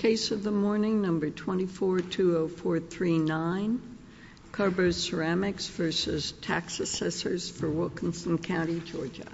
Case of the morning, number 2420439, Carbo Ceramics v. Tax Assessors for Wilkinson County, Georgia.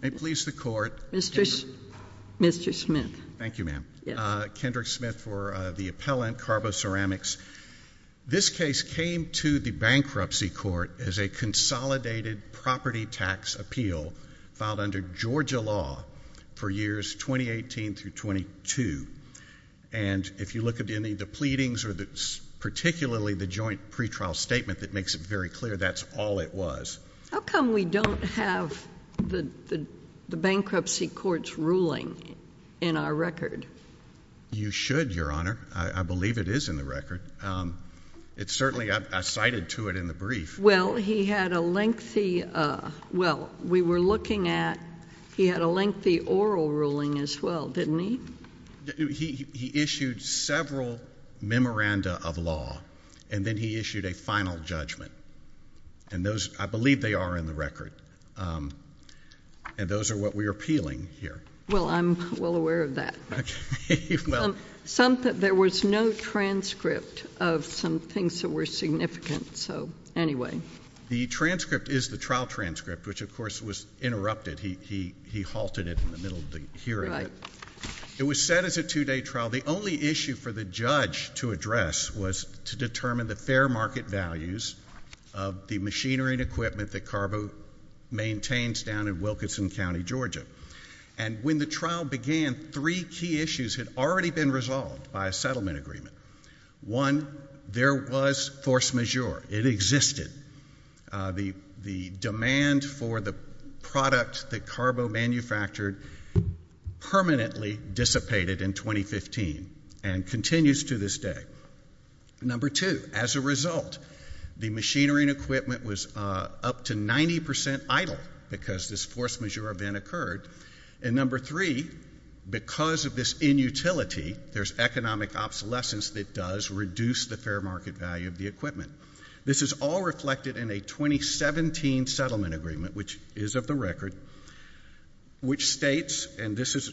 May it please the Court, Mr. Smith. Thank you, ma'am. Kendrick Smith for the appellant, Carbo Ceramics. This case came to the bankruptcy court as a consolidated property tax appeal filed under Georgia law for years 2018 through 22. And if you look at any of the pleadings or particularly the joint pretrial statement that makes it very clear, that's all it was. How come we don't have the bankruptcy court's ruling in our record? You should, Your Honor. I believe it is in the record. It certainly — I cited to it in the brief. Well, he had a lengthy — well, we were looking at — he had a lengthy oral ruling as well, didn't he? He issued several memoranda of law, and then he issued a final judgment. And those — I believe they are in the record. And those are what we are appealing here. Well, I'm well aware of that. Okay. Well — Some — there was no transcript of some things that were significant. So anyway. The transcript is the trial transcript, which, of course, was interrupted. He halted it in the middle of the hearing. It was set as a two-day trial. The only issue for the judge to address was to determine the fair market values of the machinery and equipment that Carbo maintains down in Wilkinson County, Georgia. And when the trial began, three key issues had already been resolved by a settlement agreement. One, there was force majeure. It existed. The demand for the product that Carbo manufactured permanently dissipated in 2015 and continues to this day. Number two, as a result, the machinery and equipment was up to 90 percent idle because this force majeure event occurred. And number three, because of this inutility, there's economic obsolescence that does reduce the fair market value of the equipment. This is all reflected in a 2017 settlement agreement, which is of the record, which states — and this is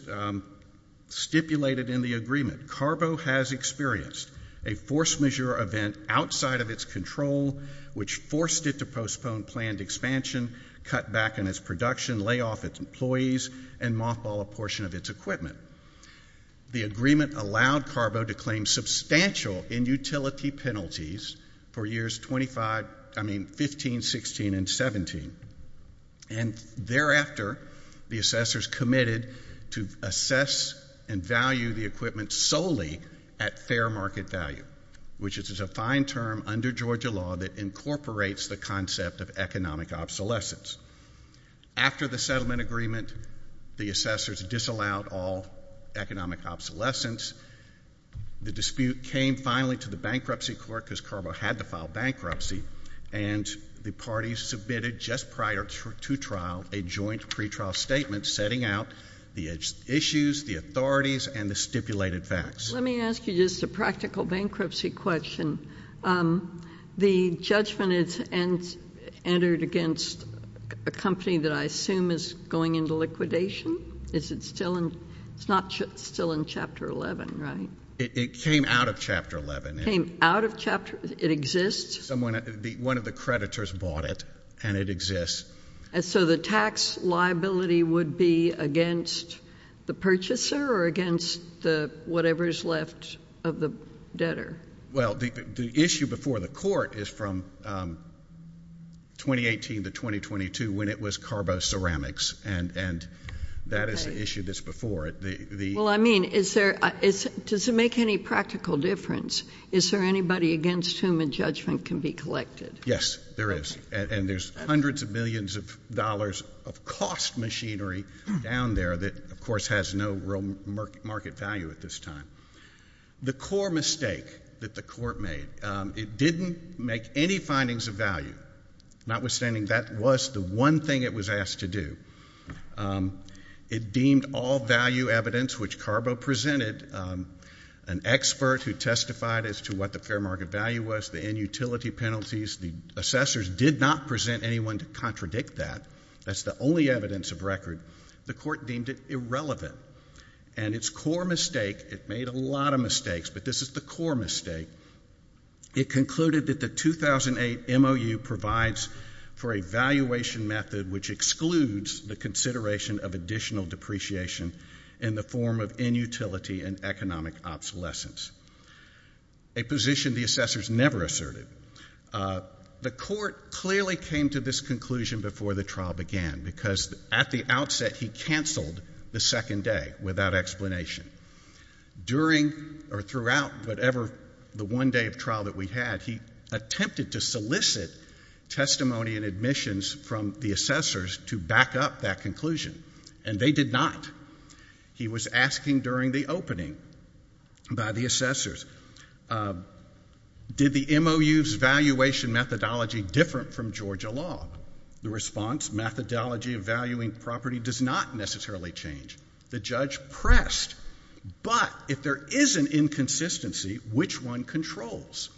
stipulated in the agreement — Carbo has experienced a force majeure event outside of its control, which forced it to postpone planned expansion, cut back on its production, lay off its employees, and mothball a portion of its equipment. The agreement allowed Carbo to claim substantial inutility penalties for years 15, 16, and 17. And thereafter, the assessors committed to assess and value the equipment solely at fair market value, which is a fine term under Georgia law that incorporates the concept of economic obsolescence. After the settlement agreement, the assessors disallowed all economic obsolescence. The dispute came finally to the bankruptcy court, because Carbo had to file bankruptcy, and the parties submitted, just prior to trial, a joint pretrial statement setting out the issues, the authorities, and the stipulated facts. Let me ask you just a practical bankruptcy question. Um, the judgment is entered against a company that I assume is going into liquidation? Is it still in — it's not still in Chapter 11, right? It came out of Chapter 11. Came out of Chapter — it exists? One of the creditors bought it, and it exists. So the tax liability would be against the purchaser or against the whatever's left of the debtor? Well, the issue before the court is from 2018 to 2022, when it was Carbo Ceramics, and that is the issue that's before it. Well, I mean, is there — does it make any practical difference? Is there anybody against whom a judgment can be collected? Yes, there is. And there's hundreds of millions of dollars of cost machinery down there that, of course, has no real market value at this time. The core mistake that the court made, it didn't make any findings of value. Notwithstanding, that was the one thing it was asked to do. It deemed all value evidence, which Carbo presented, an expert who testified as to what the fair market value was, the end-utility penalties, the assessors did not present anyone to contradict that. That's the only evidence of record. The court deemed it irrelevant. And its core mistake — it made a lot of mistakes, but this is the core mistake — it concluded that the 2008 MOU provides for a valuation method which excludes the consideration of additional depreciation in the form of end-utility and economic obsolescence, a position the assessors never asserted. The court clearly came to this conclusion before the trial began, because at the outset, he canceled the second day without explanation. During or throughout whatever — the one day of trial that we had, he attempted to solicit testimony and admissions from the assessors to back up that conclusion, and they did not. He was asking during the opening by the assessors, did the MOU's valuation methodology different from Georgia law? The response, methodology of valuing property does not necessarily change. The judge pressed, but if there is an inconsistency, which one controls?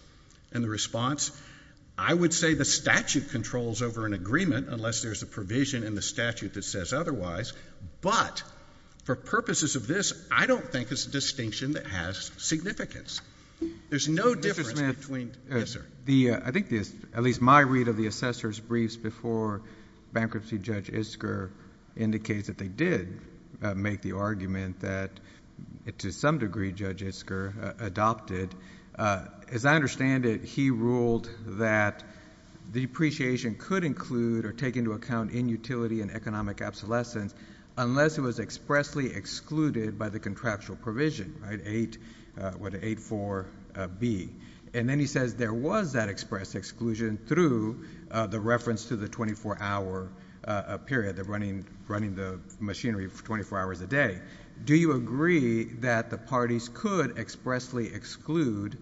And the response, I would say the statute controls over an agreement unless there's a provision in the statute that says otherwise, but for purposes of this, I don't think it's a distinction that has significance. There's no difference between — bankruptcy Judge Isker indicates that they did make the argument that, to some degree, Judge Isker adopted. As I understand it, he ruled that depreciation could include or take into account end-utility and economic obsolescence unless it was expressly excluded by the contractual provision, right? 8 — what, 8.4.B. And then he says there was that expressed exclusion through the reference to the 24-hour period, running the machinery for 24 hours a day. Do you agree that the parties could expressly exclude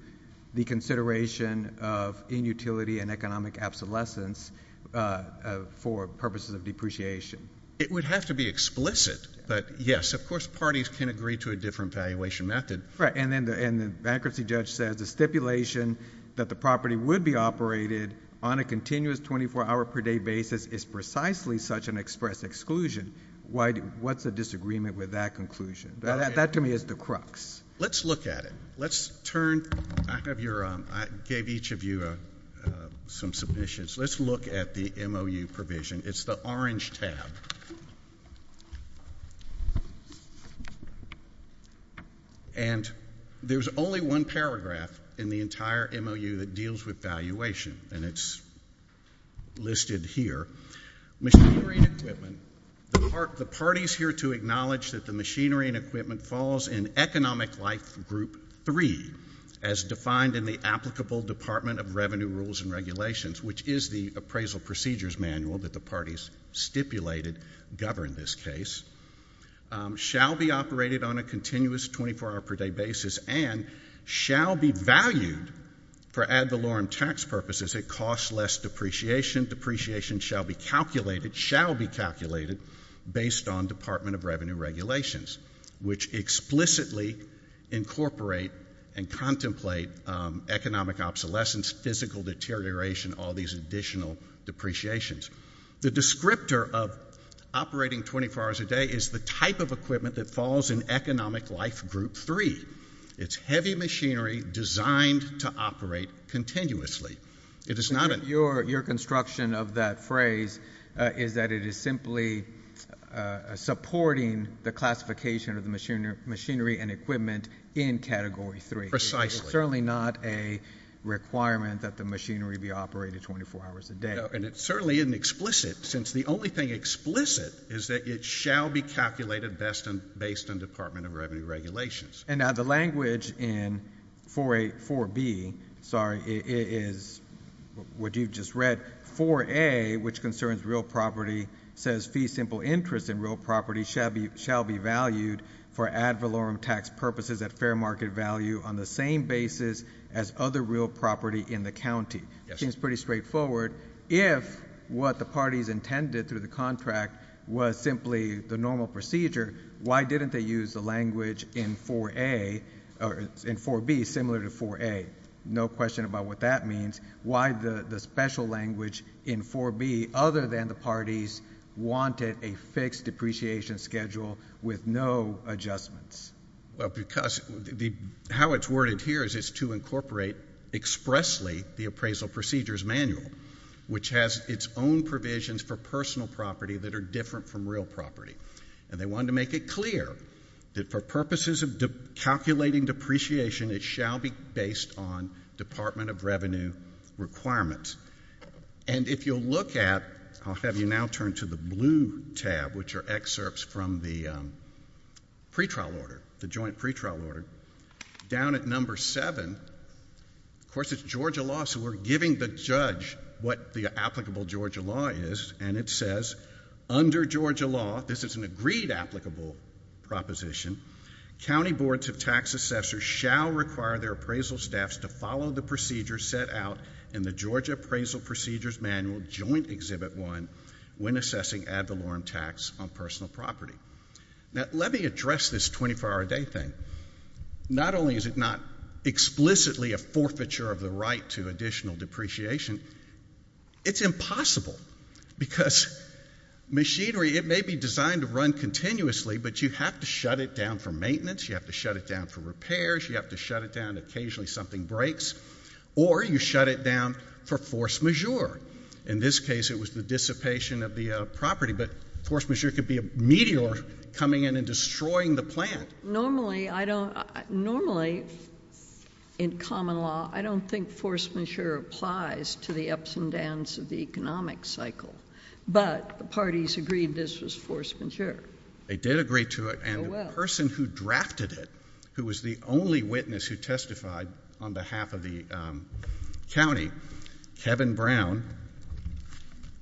the consideration of end-utility and economic obsolescence for purposes of depreciation? It would have to be explicit, but yes, of course, parties can agree to a different valuation method. Right. And then the bankruptcy judge says the stipulation that the property would be operated on a continuous 24-hour-per-day basis is precisely such an expressed exclusion. Why do — what's the disagreement with that conclusion? That to me is the crux. Let's look at it. Let's turn — I have your — I gave each of you some submissions. Let's look at the MOU provision. It's the orange tab. And there's only one paragraph in the entire MOU that deals with valuation, and it's listed here. Machinery and equipment — the parties here to acknowledge that the machinery and equipment falls in Economic Life Group 3, as defined in the applicable Department of Revenue Rules and Regulations, which is the appraisal procedures manual that the parties stipulated govern this case, shall be operated on a continuous 24-hour-per-day basis and shall be valued for ad valorem tax purposes. It costs less depreciation. Depreciation shall be calculated — shall be calculated based on Department of Revenue Regulations, which explicitly incorporate and contemplate economic obsolescence, physical deterioration, all these additional depreciations. The descriptor of operating 24 hours a day is the type of equipment that falls in Economic Life Group 3. It's heavy machinery designed to operate continuously. It is not a — Your construction of that phrase is that it is simply supporting the classification of the machinery and equipment in Category 3. Precisely. It's certainly not a requirement that the machinery be operated 24 hours a day. And it certainly isn't explicit, since the only thing explicit is that it shall be calculated best and — based on Department of Revenue Regulations. And now, the language in 4A — 4B, sorry, is what you've just read. 4A, which concerns real property, says fee-simple interest in real property shall be valued for ad valorem tax purposes at fair market value on the same basis as other real property in the county. Yes. Seems pretty straightforward. If what the parties intended through the contract was simply the normal procedure, why didn't they use the language in 4A — or in 4B, similar to 4A? No question about what that means. Why the special language in 4B, other than the parties wanted a fixed depreciation schedule with no adjustments? Well, because the — how it's worded here is it's to incorporate expressly the Appraisal Procedures Manual, which has its own provisions for personal property that are different from real property. And they wanted to make it clear that for purposes of calculating depreciation, it shall be based on Department of Revenue requirements. And if you'll look at — I'll have you now turn to the blue tab, which are excerpts from the pretrial order, the joint pretrial order. Down at number 7, of course, it's Georgia law, so we're giving the judge what the applicable Georgia law is, and it says, under Georgia law — this is an agreed applicable proposition — county boards of tax assessors shall require their appraisal staffs to follow the procedures set out in the Georgia Appraisal Procedures Manual, Joint Exhibit 1, when assessing ad valorem tax on personal property. Now, let me address this 24-hour-a-day thing. Not only is it not explicitly a forfeiture of the right to additional depreciation, it's quite impossible, because machinery, it may be designed to run continuously, but you have to shut it down for maintenance, you have to shut it down for repairs, you have to shut it down if occasionally something breaks, or you shut it down for force majeure. In this case, it was the dissipation of the property, but force majeure could be a meteor coming in and destroying the plant. Normally I don't — normally, in common law, I don't think force majeure applies to the ascendants of the economic cycle, but the parties agreed this was force majeure. They did agree to it, and the person who drafted it, who was the only witness who testified on behalf of the county, Kevin Brown —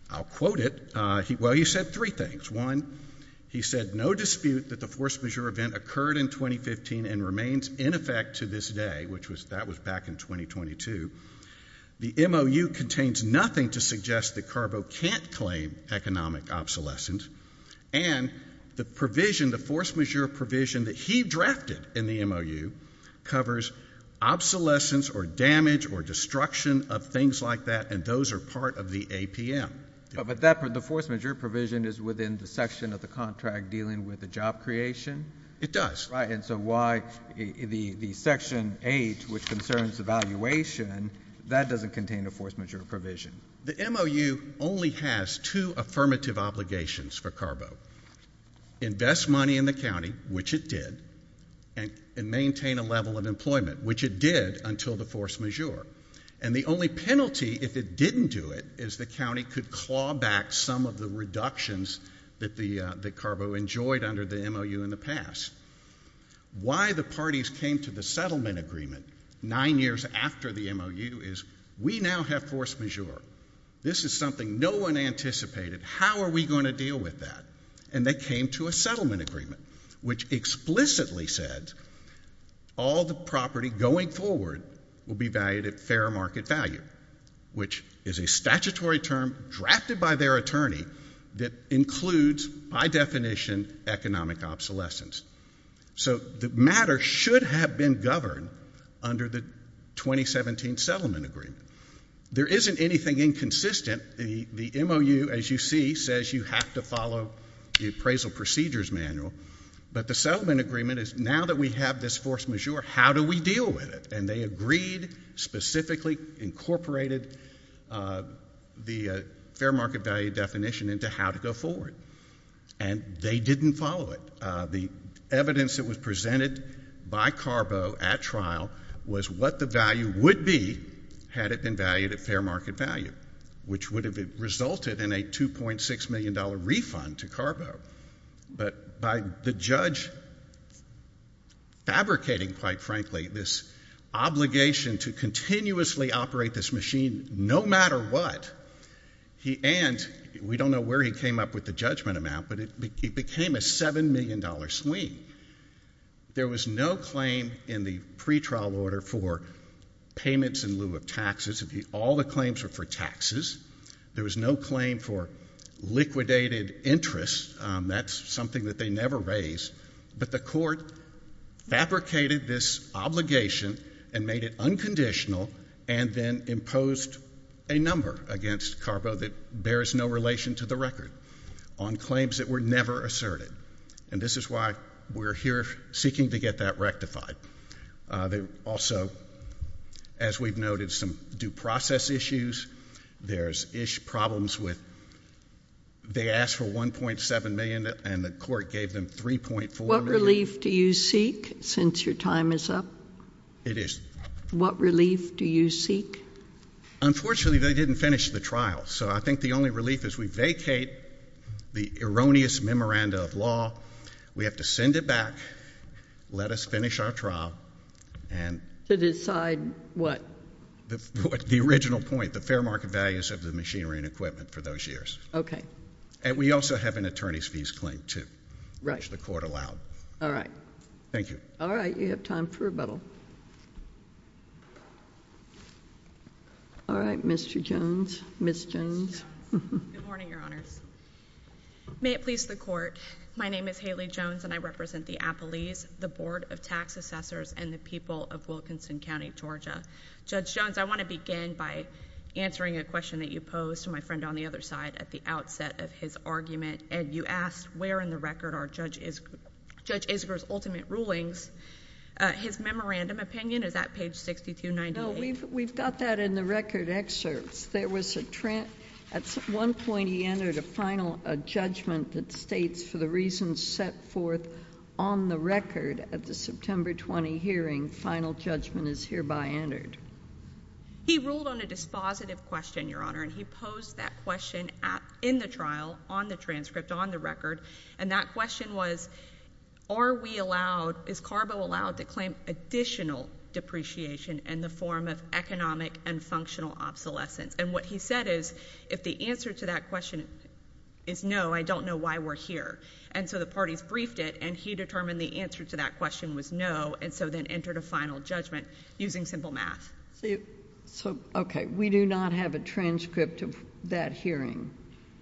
I'll quote it — well, he said three things. One, he said, no dispute that the force majeure event occurred in 2015 and remains in effect to this day, which was — that was back in 2022. The MOU contains nothing to suggest that Carbo can't claim economic obsolescence, and the provision, the force majeure provision that he drafted in the MOU covers obsolescence or damage or destruction of things like that, and those are part of the APM. But that — the force majeure provision is within the section of the contract dealing with the job creation? It does. Right, and so why the section 8, which concerns evaluation, that doesn't contain a force majeure provision. The MOU only has two affirmative obligations for Carbo — invest money in the county, which it did, and maintain a level of employment, which it did until the force majeure. And the only penalty, if it didn't do it, is the county could claw back some of the Why the parties came to the settlement agreement nine years after the MOU is we now have force majeure. This is something no one anticipated. How are we going to deal with that? And they came to a settlement agreement, which explicitly said all the property going forward will be valued at fair market value, which is a statutory term drafted by their attorney that includes, by definition, economic obsolescence. So the matter should have been governed under the 2017 settlement agreement. There isn't anything inconsistent. The MOU, as you see, says you have to follow the appraisal procedures manual, but the settlement agreement is now that we have this force majeure, how do we deal with it? And they agreed, specifically incorporated the fair market value definition into how to go forward, and they didn't follow it. The evidence that was presented by Carbo at trial was what the value would be had it been valued at fair market value, which would have resulted in a $2.6 million refund to Carbo. But by the judge fabricating, quite frankly, this obligation to continuously operate this machine no matter what, and we don't know where he came up with the judgment amount, but it became a $7 million swing. There was no claim in the pretrial order for payments in lieu of taxes. All the claims were for taxes. There was no claim for liquidated interest. That's something that they never raised. But the court fabricated this obligation and made it unconditional and then imposed a number against Carbo that bears no relation to the record on claims that were never asserted. And this is why we're here seeking to get that rectified. They also, as we've noted, some due process issues. There's ish problems with, they asked for $1.7 million and the court gave them $3.4 million. What relief do you seek since your time is up? It is. What relief do you seek? Unfortunately, they didn't finish the trial. So I think the only relief is we vacate the erroneous memoranda of law. We have to send it back, let us finish our trial, and. To decide what? The original point, the fair market values of the machinery and equipment for those years. Okay. And we also have an attorney's fees claim, too. Right. Which the court allowed. All right. Thank you. All right, you have time for rebuttal. All right, Mr. Jones, Ms. Jones. Good morning, your honors. May it please the court. My name is Haley Jones and I represent the Appellees, the Board of Tax Assessors, and the people of Wilkinson County, Georgia. Judge Jones, I want to begin by answering a question that you posed to my friend on the other side at the outset of his argument. And you asked, where in the record are Judge Isger's ultimate rulings? His memorandum opinion, is that page 6298? No, we've got that in the record excerpts. There was a trend, at one point he entered a final judgment that states for the reasons set forth on the record at the September 20 hearing, final judgment is hereby entered. He ruled on a dispositive question, your honor. And he posed that question in the trial, on the transcript, on the record. And that question was, is CARBO allowed to claim additional depreciation in the form of economic and functional obsolescence? And what he said is, if the answer to that question is no, I don't know why we're here. And so the parties briefed it, and he determined the answer to that question was no, and so then entered a final judgment using simple math. So, okay, we do not have a transcript of that hearing.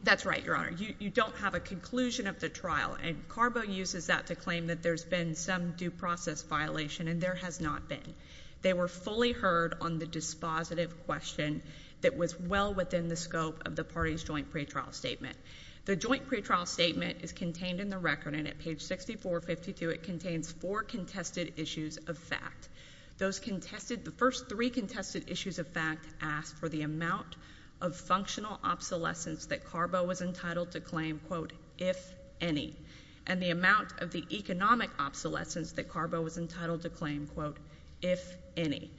That's right, your honor. You don't have a conclusion of the trial, and CARBO uses that to claim that there's been some due process violation, and there has not been. They were fully heard on the dispositive question that was well within the scope of the party's joint pretrial statement. The joint pretrial statement is contained in the record, and at page 6452, it contains four contested issues of fact. Those contested, the first three contested issues of fact ask for the amount of functional obsolescence that CARBO was entitled to claim, quote, if any, and the amount of the economic obsolescence that CARBO was entitled to claim, quote, if any.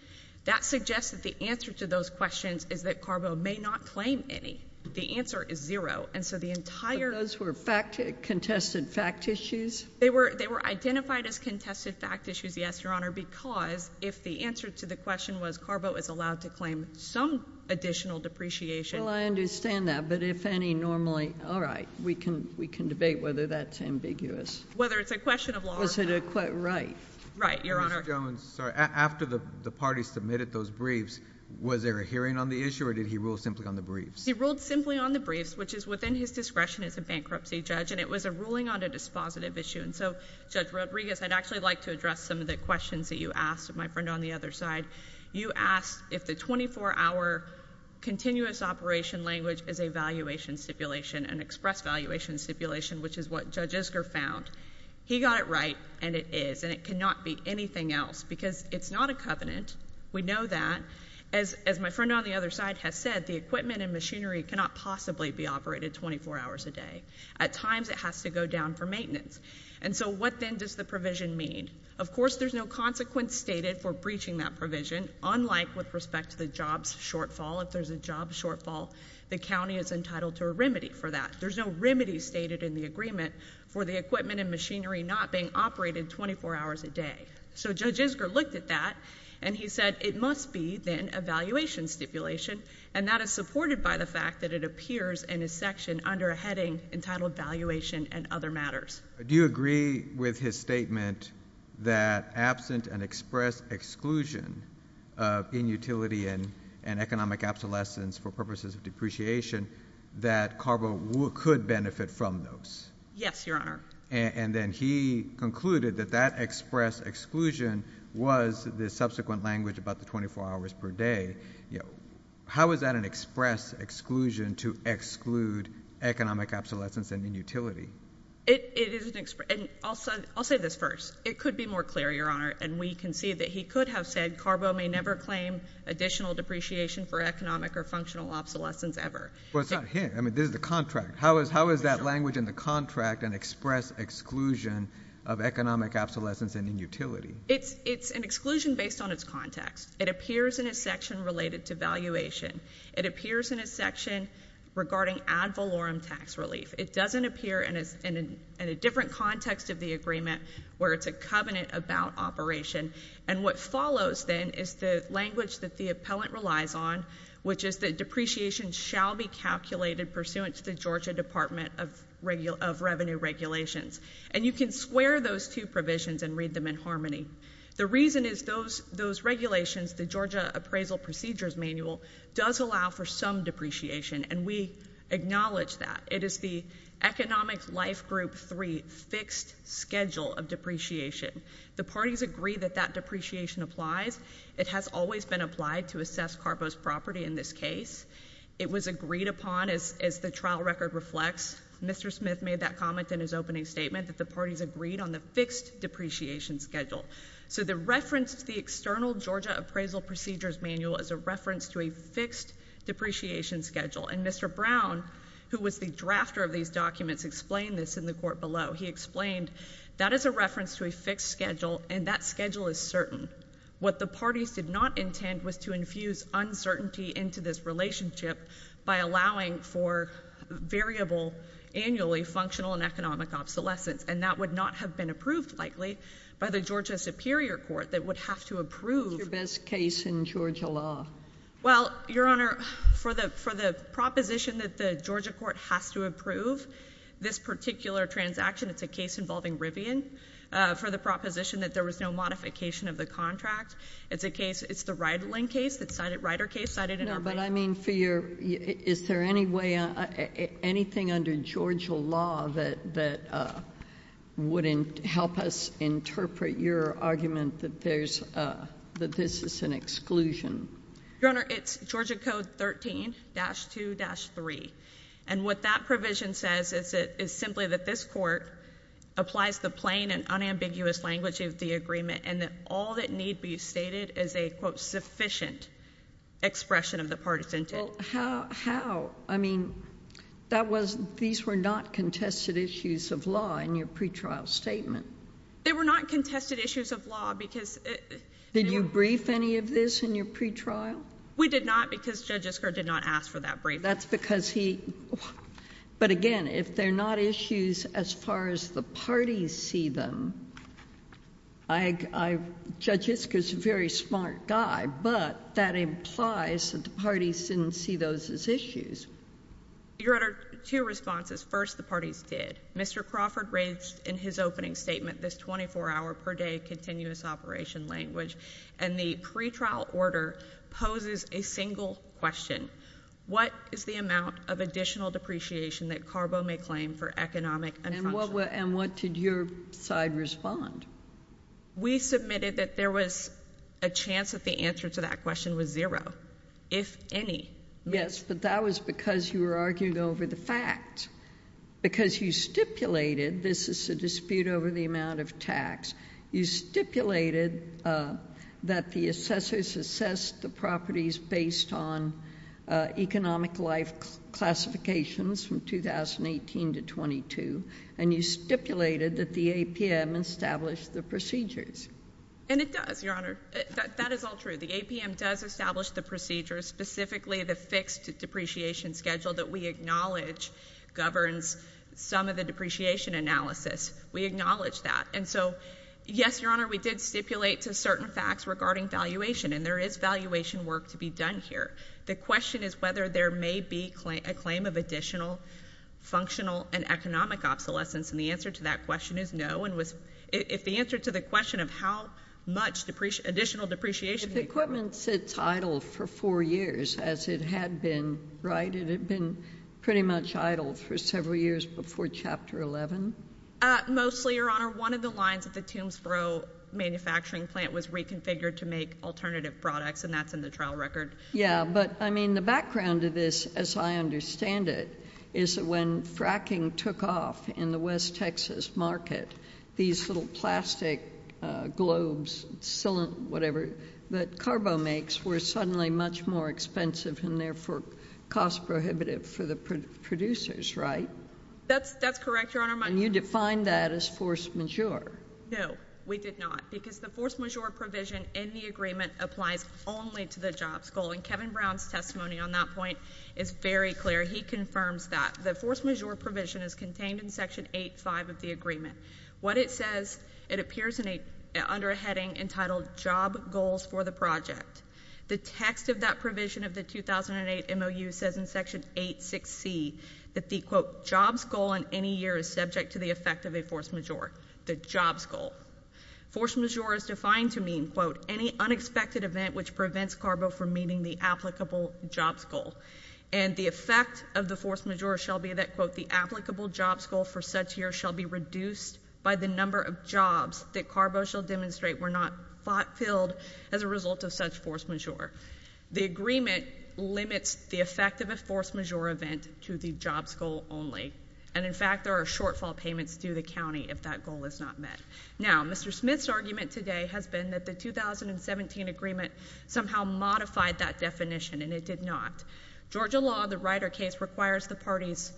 That suggests that the answer to those questions is that CARBO may not claim any. The answer is zero, and so the entire... But those were fact, contested fact issues? They were identified as contested fact issues, yes, your honor, because if the answer to the question was CARBO is allowed to claim some additional depreciation... Well, I understand that, but if any, normally, all right, we can debate whether that's ambiguous. Whether it's a question of law or fact. Was it a, right? Right, your honor. Ms. Jones, sorry, after the party submitted those briefs, was there a hearing on the issue, or did he rule simply on the briefs? He ruled simply on the briefs, which is within his discretion as a bankruptcy judge, and it was a ruling on a dispositive issue. And so, Judge Rodriguez, I'd actually like to address some of the questions that you asked my friend on the other side. You asked if the 24-hour continuous operation language is a valuation stipulation, an express valuation stipulation, which is what Judge Isker found. He got it right, and it is, and it cannot be anything else, because it's not a covenant. We know that. As my friend on the other side has said, the equipment and machinery cannot possibly be operated 24 hours a day. At times, it has to go down for maintenance. And so, what then does the provision mean? Of course, there's no consequence stated for breaching that provision, unlike with respect to the jobs shortfall. If there's a job shortfall, the county is entitled to a remedy for that. There's no remedy stated in the agreement for the equipment and machinery not being operated 24 hours a day. So, Judge Isker looked at that, and he said it must be, then, a valuation stipulation, and that is supported by the fact that it appears in a section under a heading entitled valuation and other matters. Do you agree with his statement that absent an express exclusion of inutility and economic obsolescence for purposes of depreciation that CARBO could benefit from those? Yes, Your Honor. And then he concluded that that express exclusion was the subsequent language about the 24 hours per day. You know, how is that an express exclusion to exclude economic obsolescence and inutility? It is an express, and I'll say this first. It could be more clear, Your Honor, and we can see that he could have said, CARBO may never claim additional depreciation for economic or functional obsolescence ever. Well, it's not here. I mean, this is the contract. How is that language in the contract an express exclusion of economic obsolescence and inutility? It's an exclusion based on its context. It appears in a section related to valuation. It appears in a section regarding ad valorem tax relief. It doesn't appear in a different context of the agreement where it's a covenant about operation. And what follows, then, is the language that the appellant relies on, which is that depreciation shall be calculated pursuant to the Georgia Department of Revenue regulations. And you can square those two provisions and read them in harmony. The reason is those regulations, the Georgia Appraisal Procedures Manual, does allow for some depreciation, and we acknowledge that. It is the Economic Life Group 3 fixed schedule of depreciation. The parties agree that that depreciation applies. It has always been applied to assess Carbo's property in this case. It was agreed upon, as the trial record reflects. Mr. Smith made that comment in his opening statement, that the parties agreed on the fixed depreciation schedule. So the reference to the external Georgia Appraisal Procedures Manual is a reference to a fixed depreciation schedule. And Mr. Brown, who was the drafter of these documents, explained this in the court below. He explained that is a reference to a fixed schedule, and that schedule is certain. What the parties did not intend was to infuse uncertainty into this relationship by allowing for variable annually functional and economic obsolescence. And that would not have been approved, likely, by the Georgia Superior Court, that would have to approve- Your best case in Georgia law. Well, Your Honor, for the proposition that the Georgia court has to approve this particular transaction, it's a case involving Rivian, for the proposition that there was no modification of the contract. It's a case, it's the Rydland case, the Ryder case, cited in our- No, but I mean for your, is there any way, anything under Georgia law that wouldn't help us interpret your argument that this is an exclusion? Your Honor, it's Georgia Code 13-2-3. And what that provision says is simply that this court applies the plain and unambiguous language of the agreement, and that all that need be stated is a, quote, sufficient expression of the partisan- Well, how, how? I mean, that was, these were not contested issues of law in your pre-trial statement. They were not contested issues of law because- Did you brief any of this in your pre-trial? We did not because Judge Isker did not ask for that brief. That's because he, but again, if they're not issues as far as the parties see them, I, I, Judge Isker's a very smart guy, but that implies that the parties didn't see those as issues. Your Honor, two responses. First, the parties did. Mr. Crawford raised in his opening statement this 24-hour per day continuous operation language, and the pre-trial order poses a single question. What is the amount of additional depreciation that Carbo may claim for economic and functional- And what did your side respond? We submitted that there was a chance that the answer to that question was zero, if any. Yes, but that was because you were arguing over the fact. Because you stipulated, this is a dispute over the amount of tax, you stipulated, uh, that the assessors assess the properties based on, uh, economic life classifications from 2018 to 22, and you stipulated that the APM established the procedures. And it does, Your Honor. That, that is all true. The APM does establish the procedures, specifically the fixed depreciation schedule that we acknowledge governs some of the depreciation analysis. We acknowledge that. And so, yes, Your Honor, we did stipulate to certain facts regarding valuation, and there is valuation work to be done here. The question is whether there may be a claim of additional functional and economic obsolescence, and the answer to that question is no, and was, if the answer to the question of how much depreciation, additional depreciation- If the equipment sits idle for four years, as it had been, right, it had been pretty much idle for several years before Chapter 11? Uh, mostly, Your Honor. One of the lines at the Toombsboro manufacturing plant was reconfigured to make alternative products, and that's in the trial record. Yeah, but, I mean, the background to this, as I understand it, is that when fracking took off in the West Texas market, these little plastic globes, whatever, that Carbo makes were suddenly much more expensive and, therefore, cost prohibitive for the producers, right? That's, that's correct, Your Honor. And you defined that as force majeure? No, we did not, because the force majeure provision in the agreement applies only to the jobs goal, and Kevin Brown's testimony on that point is very clear. He confirms that the force majeure provision is contained in Section 8.5 of the agreement. What it says, it appears in a, under a heading entitled, Job Goals for the Project. The text of that provision of the 2008 MOU says in Section 8.6c that the, quote, jobs goal in any year is subject to the effect of a force majeure, the jobs goal. Force majeure is defined to mean, quote, any unexpected event which prevents Carbo from meeting the applicable jobs goal. And the effect of the force majeure shall be that, quote, the applicable jobs goal for such years shall be reduced by the number of jobs that Carbo shall demonstrate were not fulfilled as a result of such force majeure. The agreement limits the effect of a force majeure event to the jobs goal only. And in fact, there are shortfall payments due to the county if that goal is not met. Now, Mr. Smith's argument today has been that the 2017 agreement somehow modified that definition and it did not. Georgia law, the Ryder case, requires the parties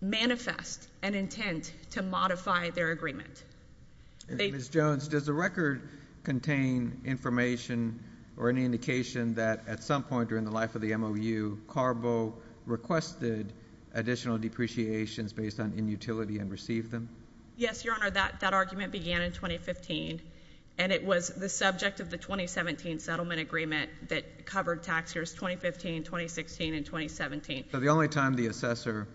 manifest an intent to modify their agreement. They— Ms. Jones, does the record contain information or any indication that at some point during the life of the MOU, Carbo requested additional depreciations based on inutility and received them? Yes, Your Honor. That argument began in 2015, and it was the subject of the 2017 settlement agreement that covered tax years 2015, 2016, and 2017. So the only time the assessor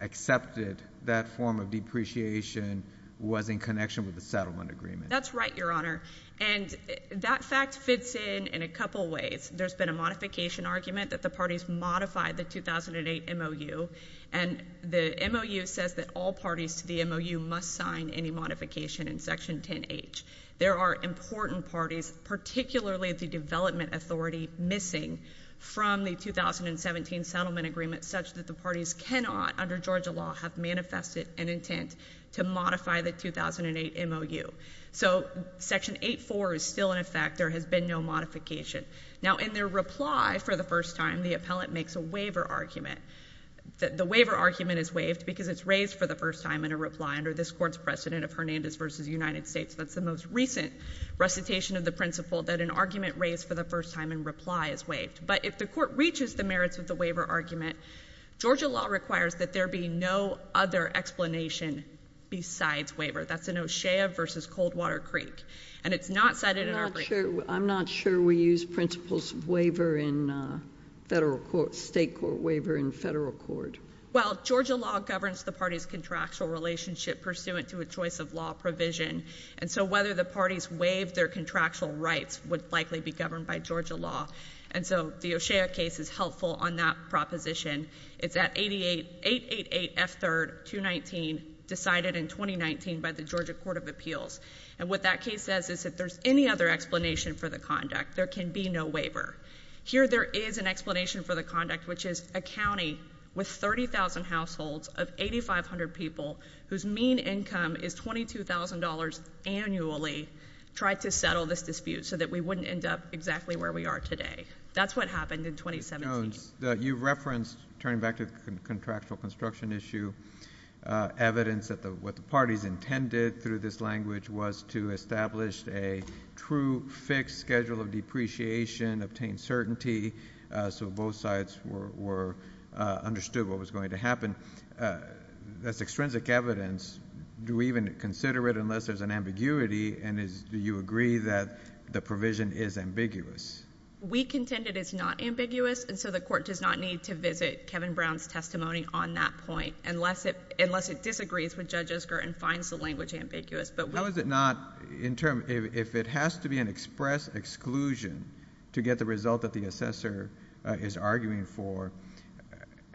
accepted that form of depreciation was in connection with the settlement agreement? That's right, Your Honor. And that fact fits in in a couple ways. There's been a modification argument that the parties modified the 2008 MOU, and the MOU says that all parties to the MOU must sign any modification in Section 10H. There are important parties, particularly the development authority, missing from the 2017 settlement agreement such that the parties cannot, under Georgia law, have manifested an intent to modify the 2008 MOU. So Section 8.4 is still in effect. There has been no modification. Now, in their reply for the first time, the appellant makes a waiver argument. The waiver argument is waived because it's raised for the first time in a reply under this Court's precedent of Hernandez v. United States. That's the most recent recitation of the principle that an argument raised for the first time in reply is waived. But if the Court reaches the merits of the waiver argument, Georgia law requires that there be no other explanation besides waiver. That's in O'Shea v. Coldwater Creek, and it's not cited in our brief. I'm not sure we use principles of waiver in federal court, state court waiver in federal court. Well, Georgia law governs the parties' contractual relationship pursuant to a choice of law provision, and so whether the parties waive their contractual rights would likely be governed by Georgia law. And so the O'Shea case is helpful on that proposition. It's at 888 F. 3rd, 219, decided in 2019 by the Georgia Court of Appeals. And what that case says is if there's any other explanation for the conduct, there can be no waiver. Here there is an explanation for the conduct, which is a county with 30,000 households of 8,500 people whose mean income is $22,000 annually tried to settle this dispute so that we wouldn't end up exactly where we are today. That's what happened in 2017. Jones, you referenced, turning back to the contractual construction issue, evidence that what the parties intended through this language was to establish a true fixed schedule of depreciation, obtain certainty so both sides understood what was going to happen. That's extrinsic evidence. Do we even consider it unless there's an ambiguity, and do you agree that the provision is ambiguous? We contend it is not ambiguous, and so the court does not need to visit Kevin Brown's testimony on that point unless it disagrees with Judge Osgurt and finds the language ambiguous. How is it not... if it has to be an express exclusion to get the result that the assessor is arguing for,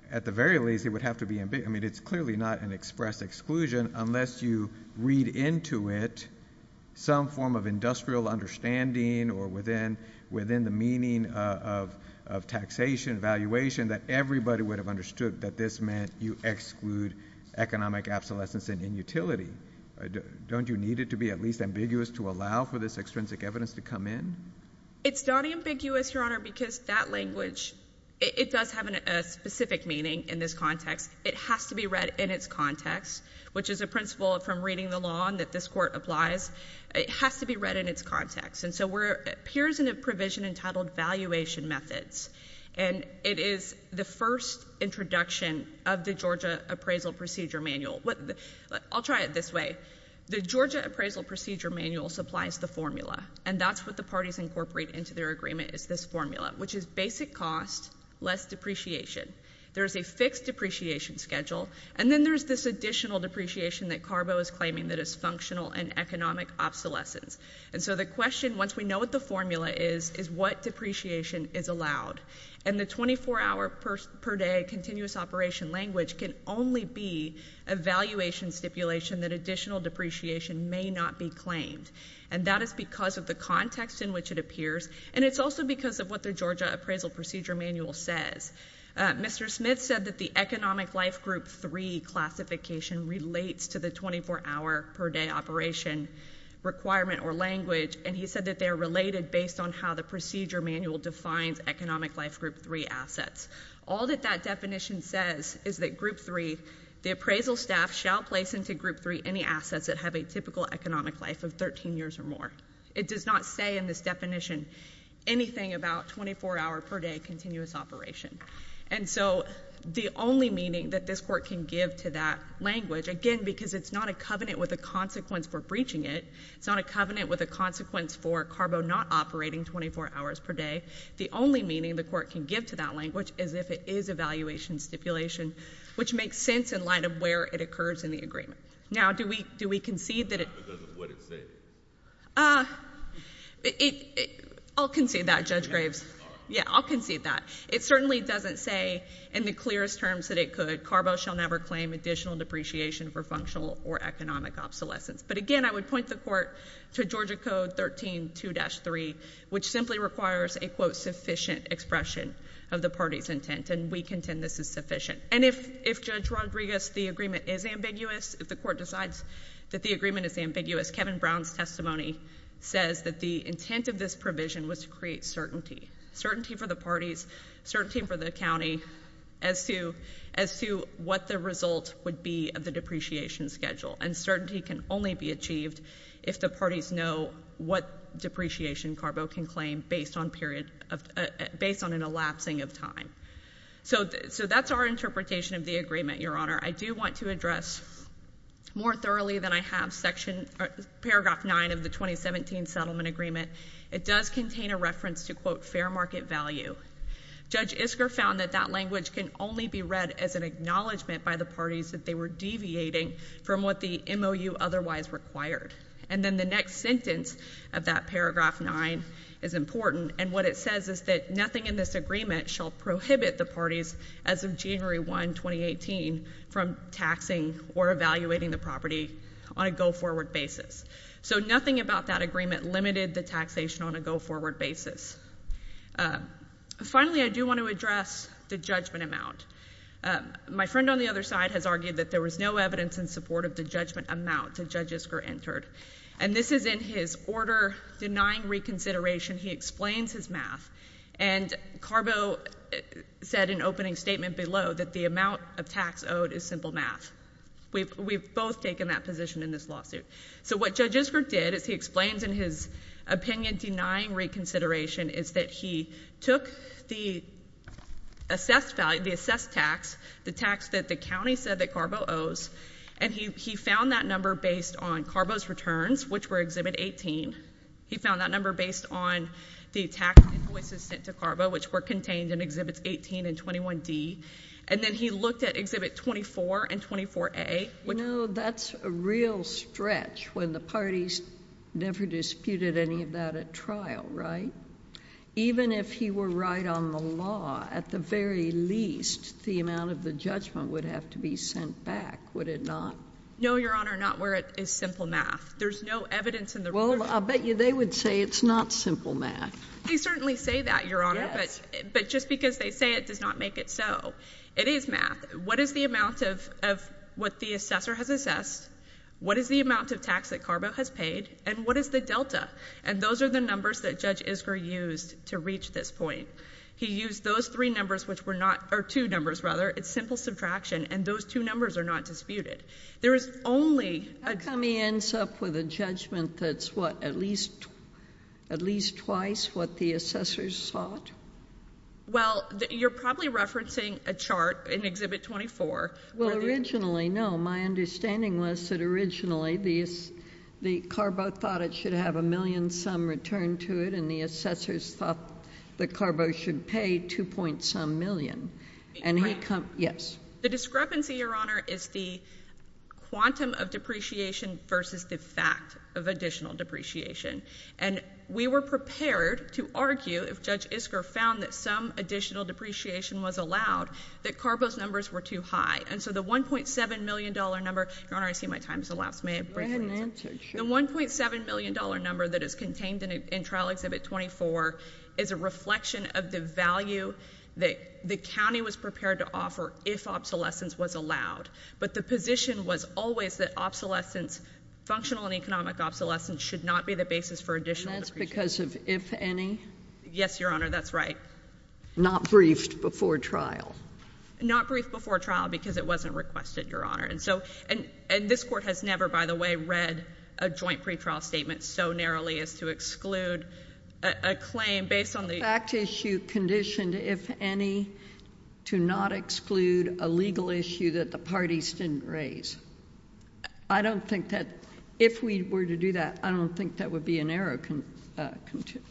at the very least, it would have to be... I mean, it's clearly not an express exclusion unless you read into it some form of industrial understanding or within the meaning of taxation, valuation, that everybody would have understood that this meant you exclude economic obsolescence and inutility. Don't you need it to be at least ambiguous to allow for this extrinsic evidence to come in? It's not ambiguous, Your Honor, because that language, it does have a specific meaning in this context. It has to be read in its context, which is a principle from reading the law that this court applies. It has to be read in its context, and so it appears in a provision entitled Valuation Methods, and it is the first introduction of the Georgia Appraisal Procedure Manual. I'll try it this way. The Georgia Appraisal Procedure Manual supplies the formula, and that's what the parties incorporate into their agreement, is this formula, which is basic cost, less depreciation. There's a fixed depreciation schedule, and then there's this additional depreciation that Carbo is claiming that is functional and economic obsolescence. And so the question, once we know what the formula is, is what depreciation is allowed? And the 24-hour per day continuous operation language can only be a valuation stipulation that additional depreciation may not be claimed, and that is because of the context in which it appears, and it's also because of what the Georgia Appraisal Procedure Manual says. Mr. Smith said that the Economic Life Group 3 classification relates to the 24-hour per day operation requirement or language, and he said that they are related based on how the procedure manual defines Economic Life Group 3 assets. All that that definition says is that Group 3, the appraisal staff shall place into Group 3 any assets that have a typical economic life of 13 years or more. It does not say in this definition anything about 24-hour per day continuous operation. And so the only meaning that this Court can give to that language, again, because it's not a covenant with a consequence for breaching it, it's not a covenant with a consequence for Carbo not operating 24 hours per day, the only meaning the Court can give to that language is if it is a valuation stipulation, which makes sense in light of where it occurs in the agreement. Now, do we concede that it— Not because of what it says. I'll concede that, Judge Graves. Yeah, I'll concede that. It certainly doesn't say in the clearest terms that it could, Carbo shall never claim additional depreciation for functional or economic obsolescence. But again, I would point the Court to Georgia Code 13.2-3, which simply requires a, quote, sufficient expression of the party's intent, and we contend this is sufficient. And if, Judge Rodriguez, the agreement is ambiguous, if the Court decides that the agreement is ambiguous, Kevin Brown's testimony says that the intent of this provision was to create certainty, certainty for the parties, certainty for the county as to what the result would be of the depreciation schedule. And certainty can only be achieved if the parties know what depreciation Carbo can claim based on an elapsing of time. So that's our interpretation of the agreement, Your Honor. I do want to address more thoroughly than I have paragraph 9 of the 2017 settlement agreement. It does contain a reference to, quote, fair market value. Judge Isker found that that language can only be read as an acknowledgment by the parties that they were deviating from what the MOU otherwise required. And then the next sentence of that paragraph 9 is important, and what it says is that nothing in this agreement shall prohibit the parties as of January 1, 2018, from taxing or evaluating the property on a go-forward basis. So nothing about that agreement limited the taxation on a go-forward basis. Finally, I do want to address the judgment amount. My friend on the other side has argued that there was no evidence in support of the judgment amount that Judge Isker entered. And this is in his order denying reconsideration. He explains his math, and Carbo said in opening statement below that the amount of tax owed is simple math. We've both taken that position in this lawsuit. So what Judge Isker did is he explains in his opinion denying reconsideration is that he took the assessed tax, the tax that the county said that Carbo owes, and he found that number based on Carbo's returns, which were Exhibit 18. He found that number based on the tax invoices sent to Carbo, which were contained in Exhibits 18 and 21D. And then he looked at Exhibit 24 and 24A. You know, that's a real stretch when the parties never disputed any of that at trial, right? Even if he were right on the law, at the very least, the amount of the judgment would have to be sent back, would it not? No, Your Honor, not where it is simple math. There's no evidence in the record. Well, I'll bet you they would say it's not simple math. They certainly say that, Your Honor, but just because they say it does not make it so. It is math. What is the amount of what the assessor has assessed? What is the amount of tax that Carbo has paid? And what is the delta? And those are the numbers that Judge Isker used to reach this point. He used those three numbers, which were not, or two numbers, rather. It's simple subtraction, and those two numbers are not disputed. There is only— How come he ends up with a judgment that's, what, at least twice what the assessors sought? Well, you're probably referencing a chart in Exhibit 24. Well, originally, no. My understanding was that originally the Carbo thought it should have a million-some return to it, and the assessors thought that Carbo should pay 2-point-some million. And he— Right. Yes. So the discrepancy, Your Honor, is the quantum of depreciation versus the fact of additional depreciation. And we were prepared to argue, if Judge Isker found that some additional depreciation was allowed, that Carbo's numbers were too high. And so the $1.7 million number—Your Honor, I see my time is elapsed. May I briefly— Go ahead and answer. Sure. The $1.7 million number that is contained in Trial Exhibit 24 is a reflection of the value that the county was prepared to offer if obsolescence was allowed. But the position was always that obsolescence—functional and economic obsolescence—should not be the basis for additional depreciation. And that's because of if any? Yes, Your Honor, that's right. Not briefed before trial. Not briefed before trial because it wasn't requested, Your Honor. And so—and this Court has never, by the way, read a joint pretrial statement so narrowly as to exclude a claim based on the— A fact issue conditioned, if any, to not exclude a legal issue that the parties didn't raise. I don't think that—if we were to do that, I don't think that would be a narrow construction.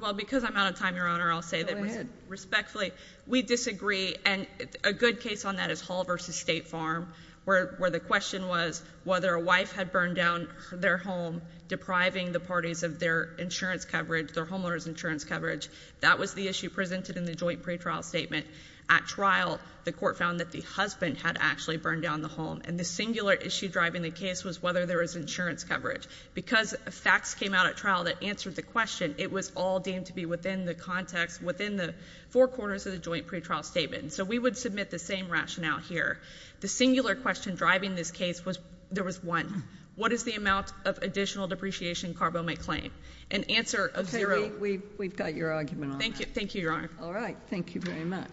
Well, because I'm out of time, Your Honor, I'll say that— Respectfully, we disagree. And a good case on that is Hall v. State Farm, where the question was whether a wife had burned down their home, depriving the parties of their insurance coverage, their homeowners insurance coverage. That was the issue presented in the joint pretrial statement. At trial, the Court found that the husband had actually burned down the home. And the singular issue driving the case was whether there was insurance coverage. Because facts came out at trial that answered the question, it was all deemed to be within the context—within the four corners of the joint pretrial statement. So we would submit the same rationale here. The singular question driving this case was—there was one. What is the amount of additional depreciation CARBO may claim? An answer of zero. We've got your argument on that. Thank you. Thank you, Your Honor. All right. Thank you very much.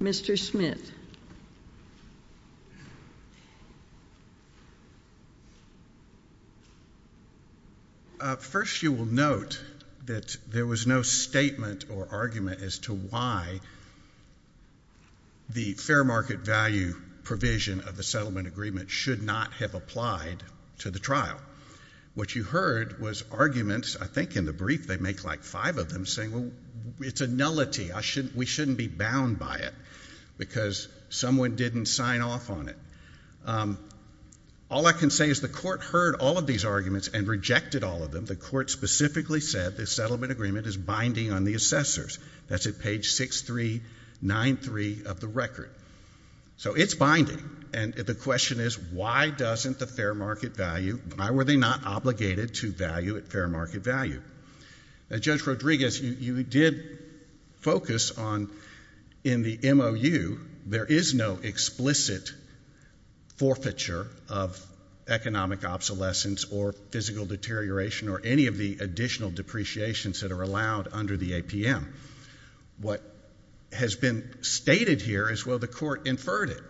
Mr. Smith. First, you will note that there was no statement or argument as to why the fair market value provision of the settlement agreement should not have applied to the trial. What you heard was arguments—I think in the brief they make like five of them—saying, well, it's a nullity. We shouldn't be bound by it because someone didn't sign off on it. All I can say is the Court heard all of these arguments and rejected all of them. The Court specifically said the settlement agreement is binding on the assessors. That's at page 6393 of the record. So it's binding, and the question is, why doesn't the fair market value—why were they not obligated to value at fair market value? Now, Judge Rodriguez, you did focus on—in the MOU, there is no explicit forfeiture of economic obsolescence or physical deterioration or any of the additional depreciations that are allowed under the APM. What has been stated here is, well, the Court inferred it.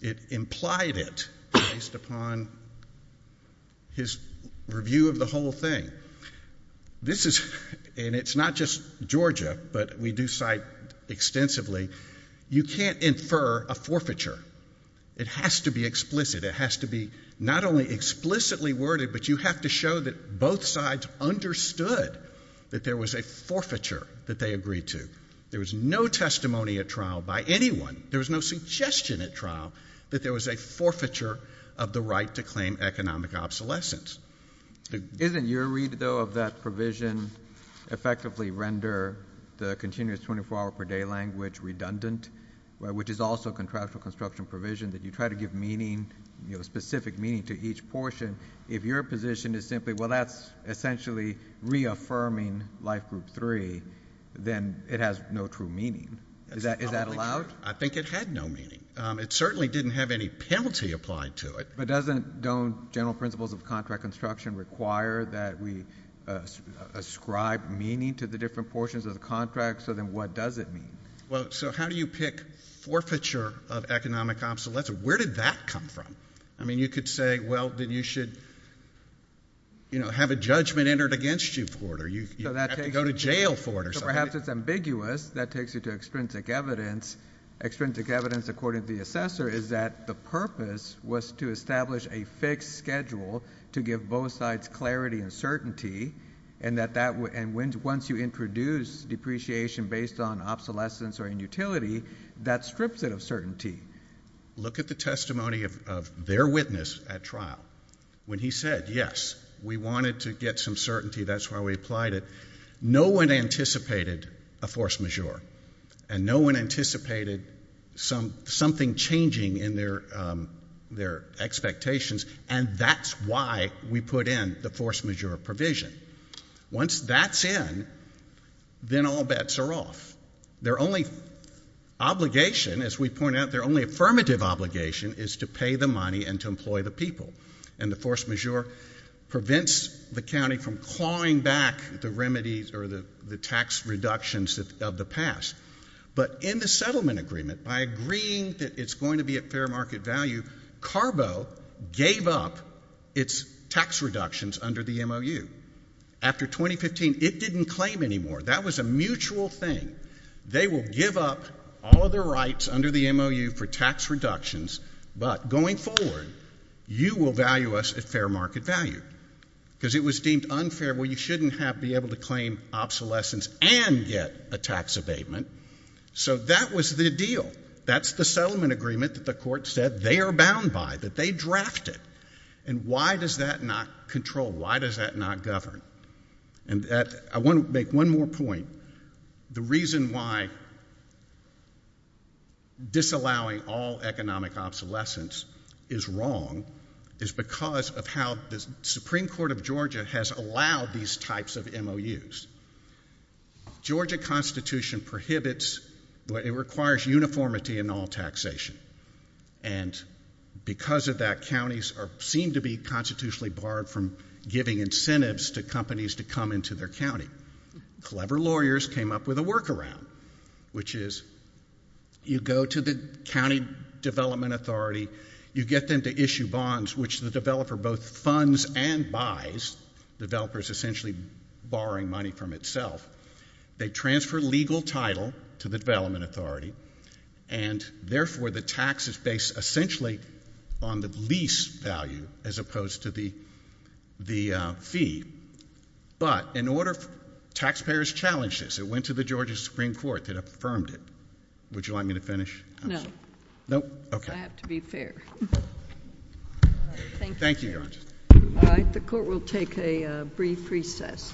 It implied it based upon his review of the whole thing. This is—and it's not just Georgia, but we do cite extensively—you can't infer a forfeiture. It has to be explicit. It has to be not only explicitly worded, but you have to show that both sides understood that there was a forfeiture that they agreed to. There was no testimony at trial by anyone. There was no suggestion at trial that there was a forfeiture of the right to claim economic obsolescence. Isn't your read, though, of that provision effectively render the continuous 24-hour-per-day language redundant, which is also a contractual construction provision that you try to give meaning, you know, specific meaning to each portion, if your position is simply, well, that's essentially reaffirming Life Group 3, then it has no true meaning. Is that allowed? I think it had no meaning. It certainly didn't have any penalty applied to it. But don't general principles of contract construction require that we ascribe meaning to the different portions of the contract? So then what does it mean? Well, so how do you pick forfeiture of economic obsolescence? Where did that come from? I mean, you could say, well, then you should, you know, have a judgment entered against you for it, or you have to go to jail for it, or something. So perhaps it's ambiguous. That takes you to extrinsic evidence. Extrinsic evidence, according to the assessor, is that the purpose was to establish a fixed schedule to give both sides clarity and certainty, and once you introduce depreciation based on obsolescence or inutility, that strips it of certainty. Look at the testimony of their witness at trial. When he said, yes, we wanted to get some certainty, that's why we applied it, no one anticipated a force majeure, and no one anticipated something changing in their expectations, and that's why we put in the force majeure provision. Once that's in, then all bets are off. Their only obligation, as we point out, their only affirmative obligation is to pay the money and to employ the people, and the force majeure prevents the county from clawing back the remedies or the tax reductions of the past. But in the settlement agreement, by agreeing that it's going to be at fair market value, Carbo gave up its tax reductions under the MOU. After 2015, it didn't claim anymore. That was a mutual thing. They will give up all of their rights under the MOU for tax reductions, but going forward, you will value us at fair market value, because it was deemed unfair where you shouldn't be able to claim obsolescence and get a tax abatement. So that was the deal. That's the settlement agreement that the court said they are bound by, that they drafted, and why does that not control? Why does that not govern? And I want to make one more point. The reason why disallowing all economic obsolescence is wrong is because of how the Supreme Court of Georgia has allowed these types of MOUs. Georgia constitution prohibits, it requires uniformity in all taxation, and because of that, counties seem to be constitutionally barred from giving incentives to companies to come into their county. Clever lawyers came up with a workaround, which is you go to the county development authority, you get them to issue bonds, which the developer both funds and buys, developers essentially borrowing money from itself, they transfer legal title to the development authority, and therefore the tax is based essentially on the lease value as opposed to the fee. But in order, taxpayers challenged this. It went to the Georgia Supreme Court that affirmed it. Would you like me to finish? No. No? Okay. I have to be fair. Thank you. Thank you, Your Honor. All right. The court will take a brief recess. Thank you.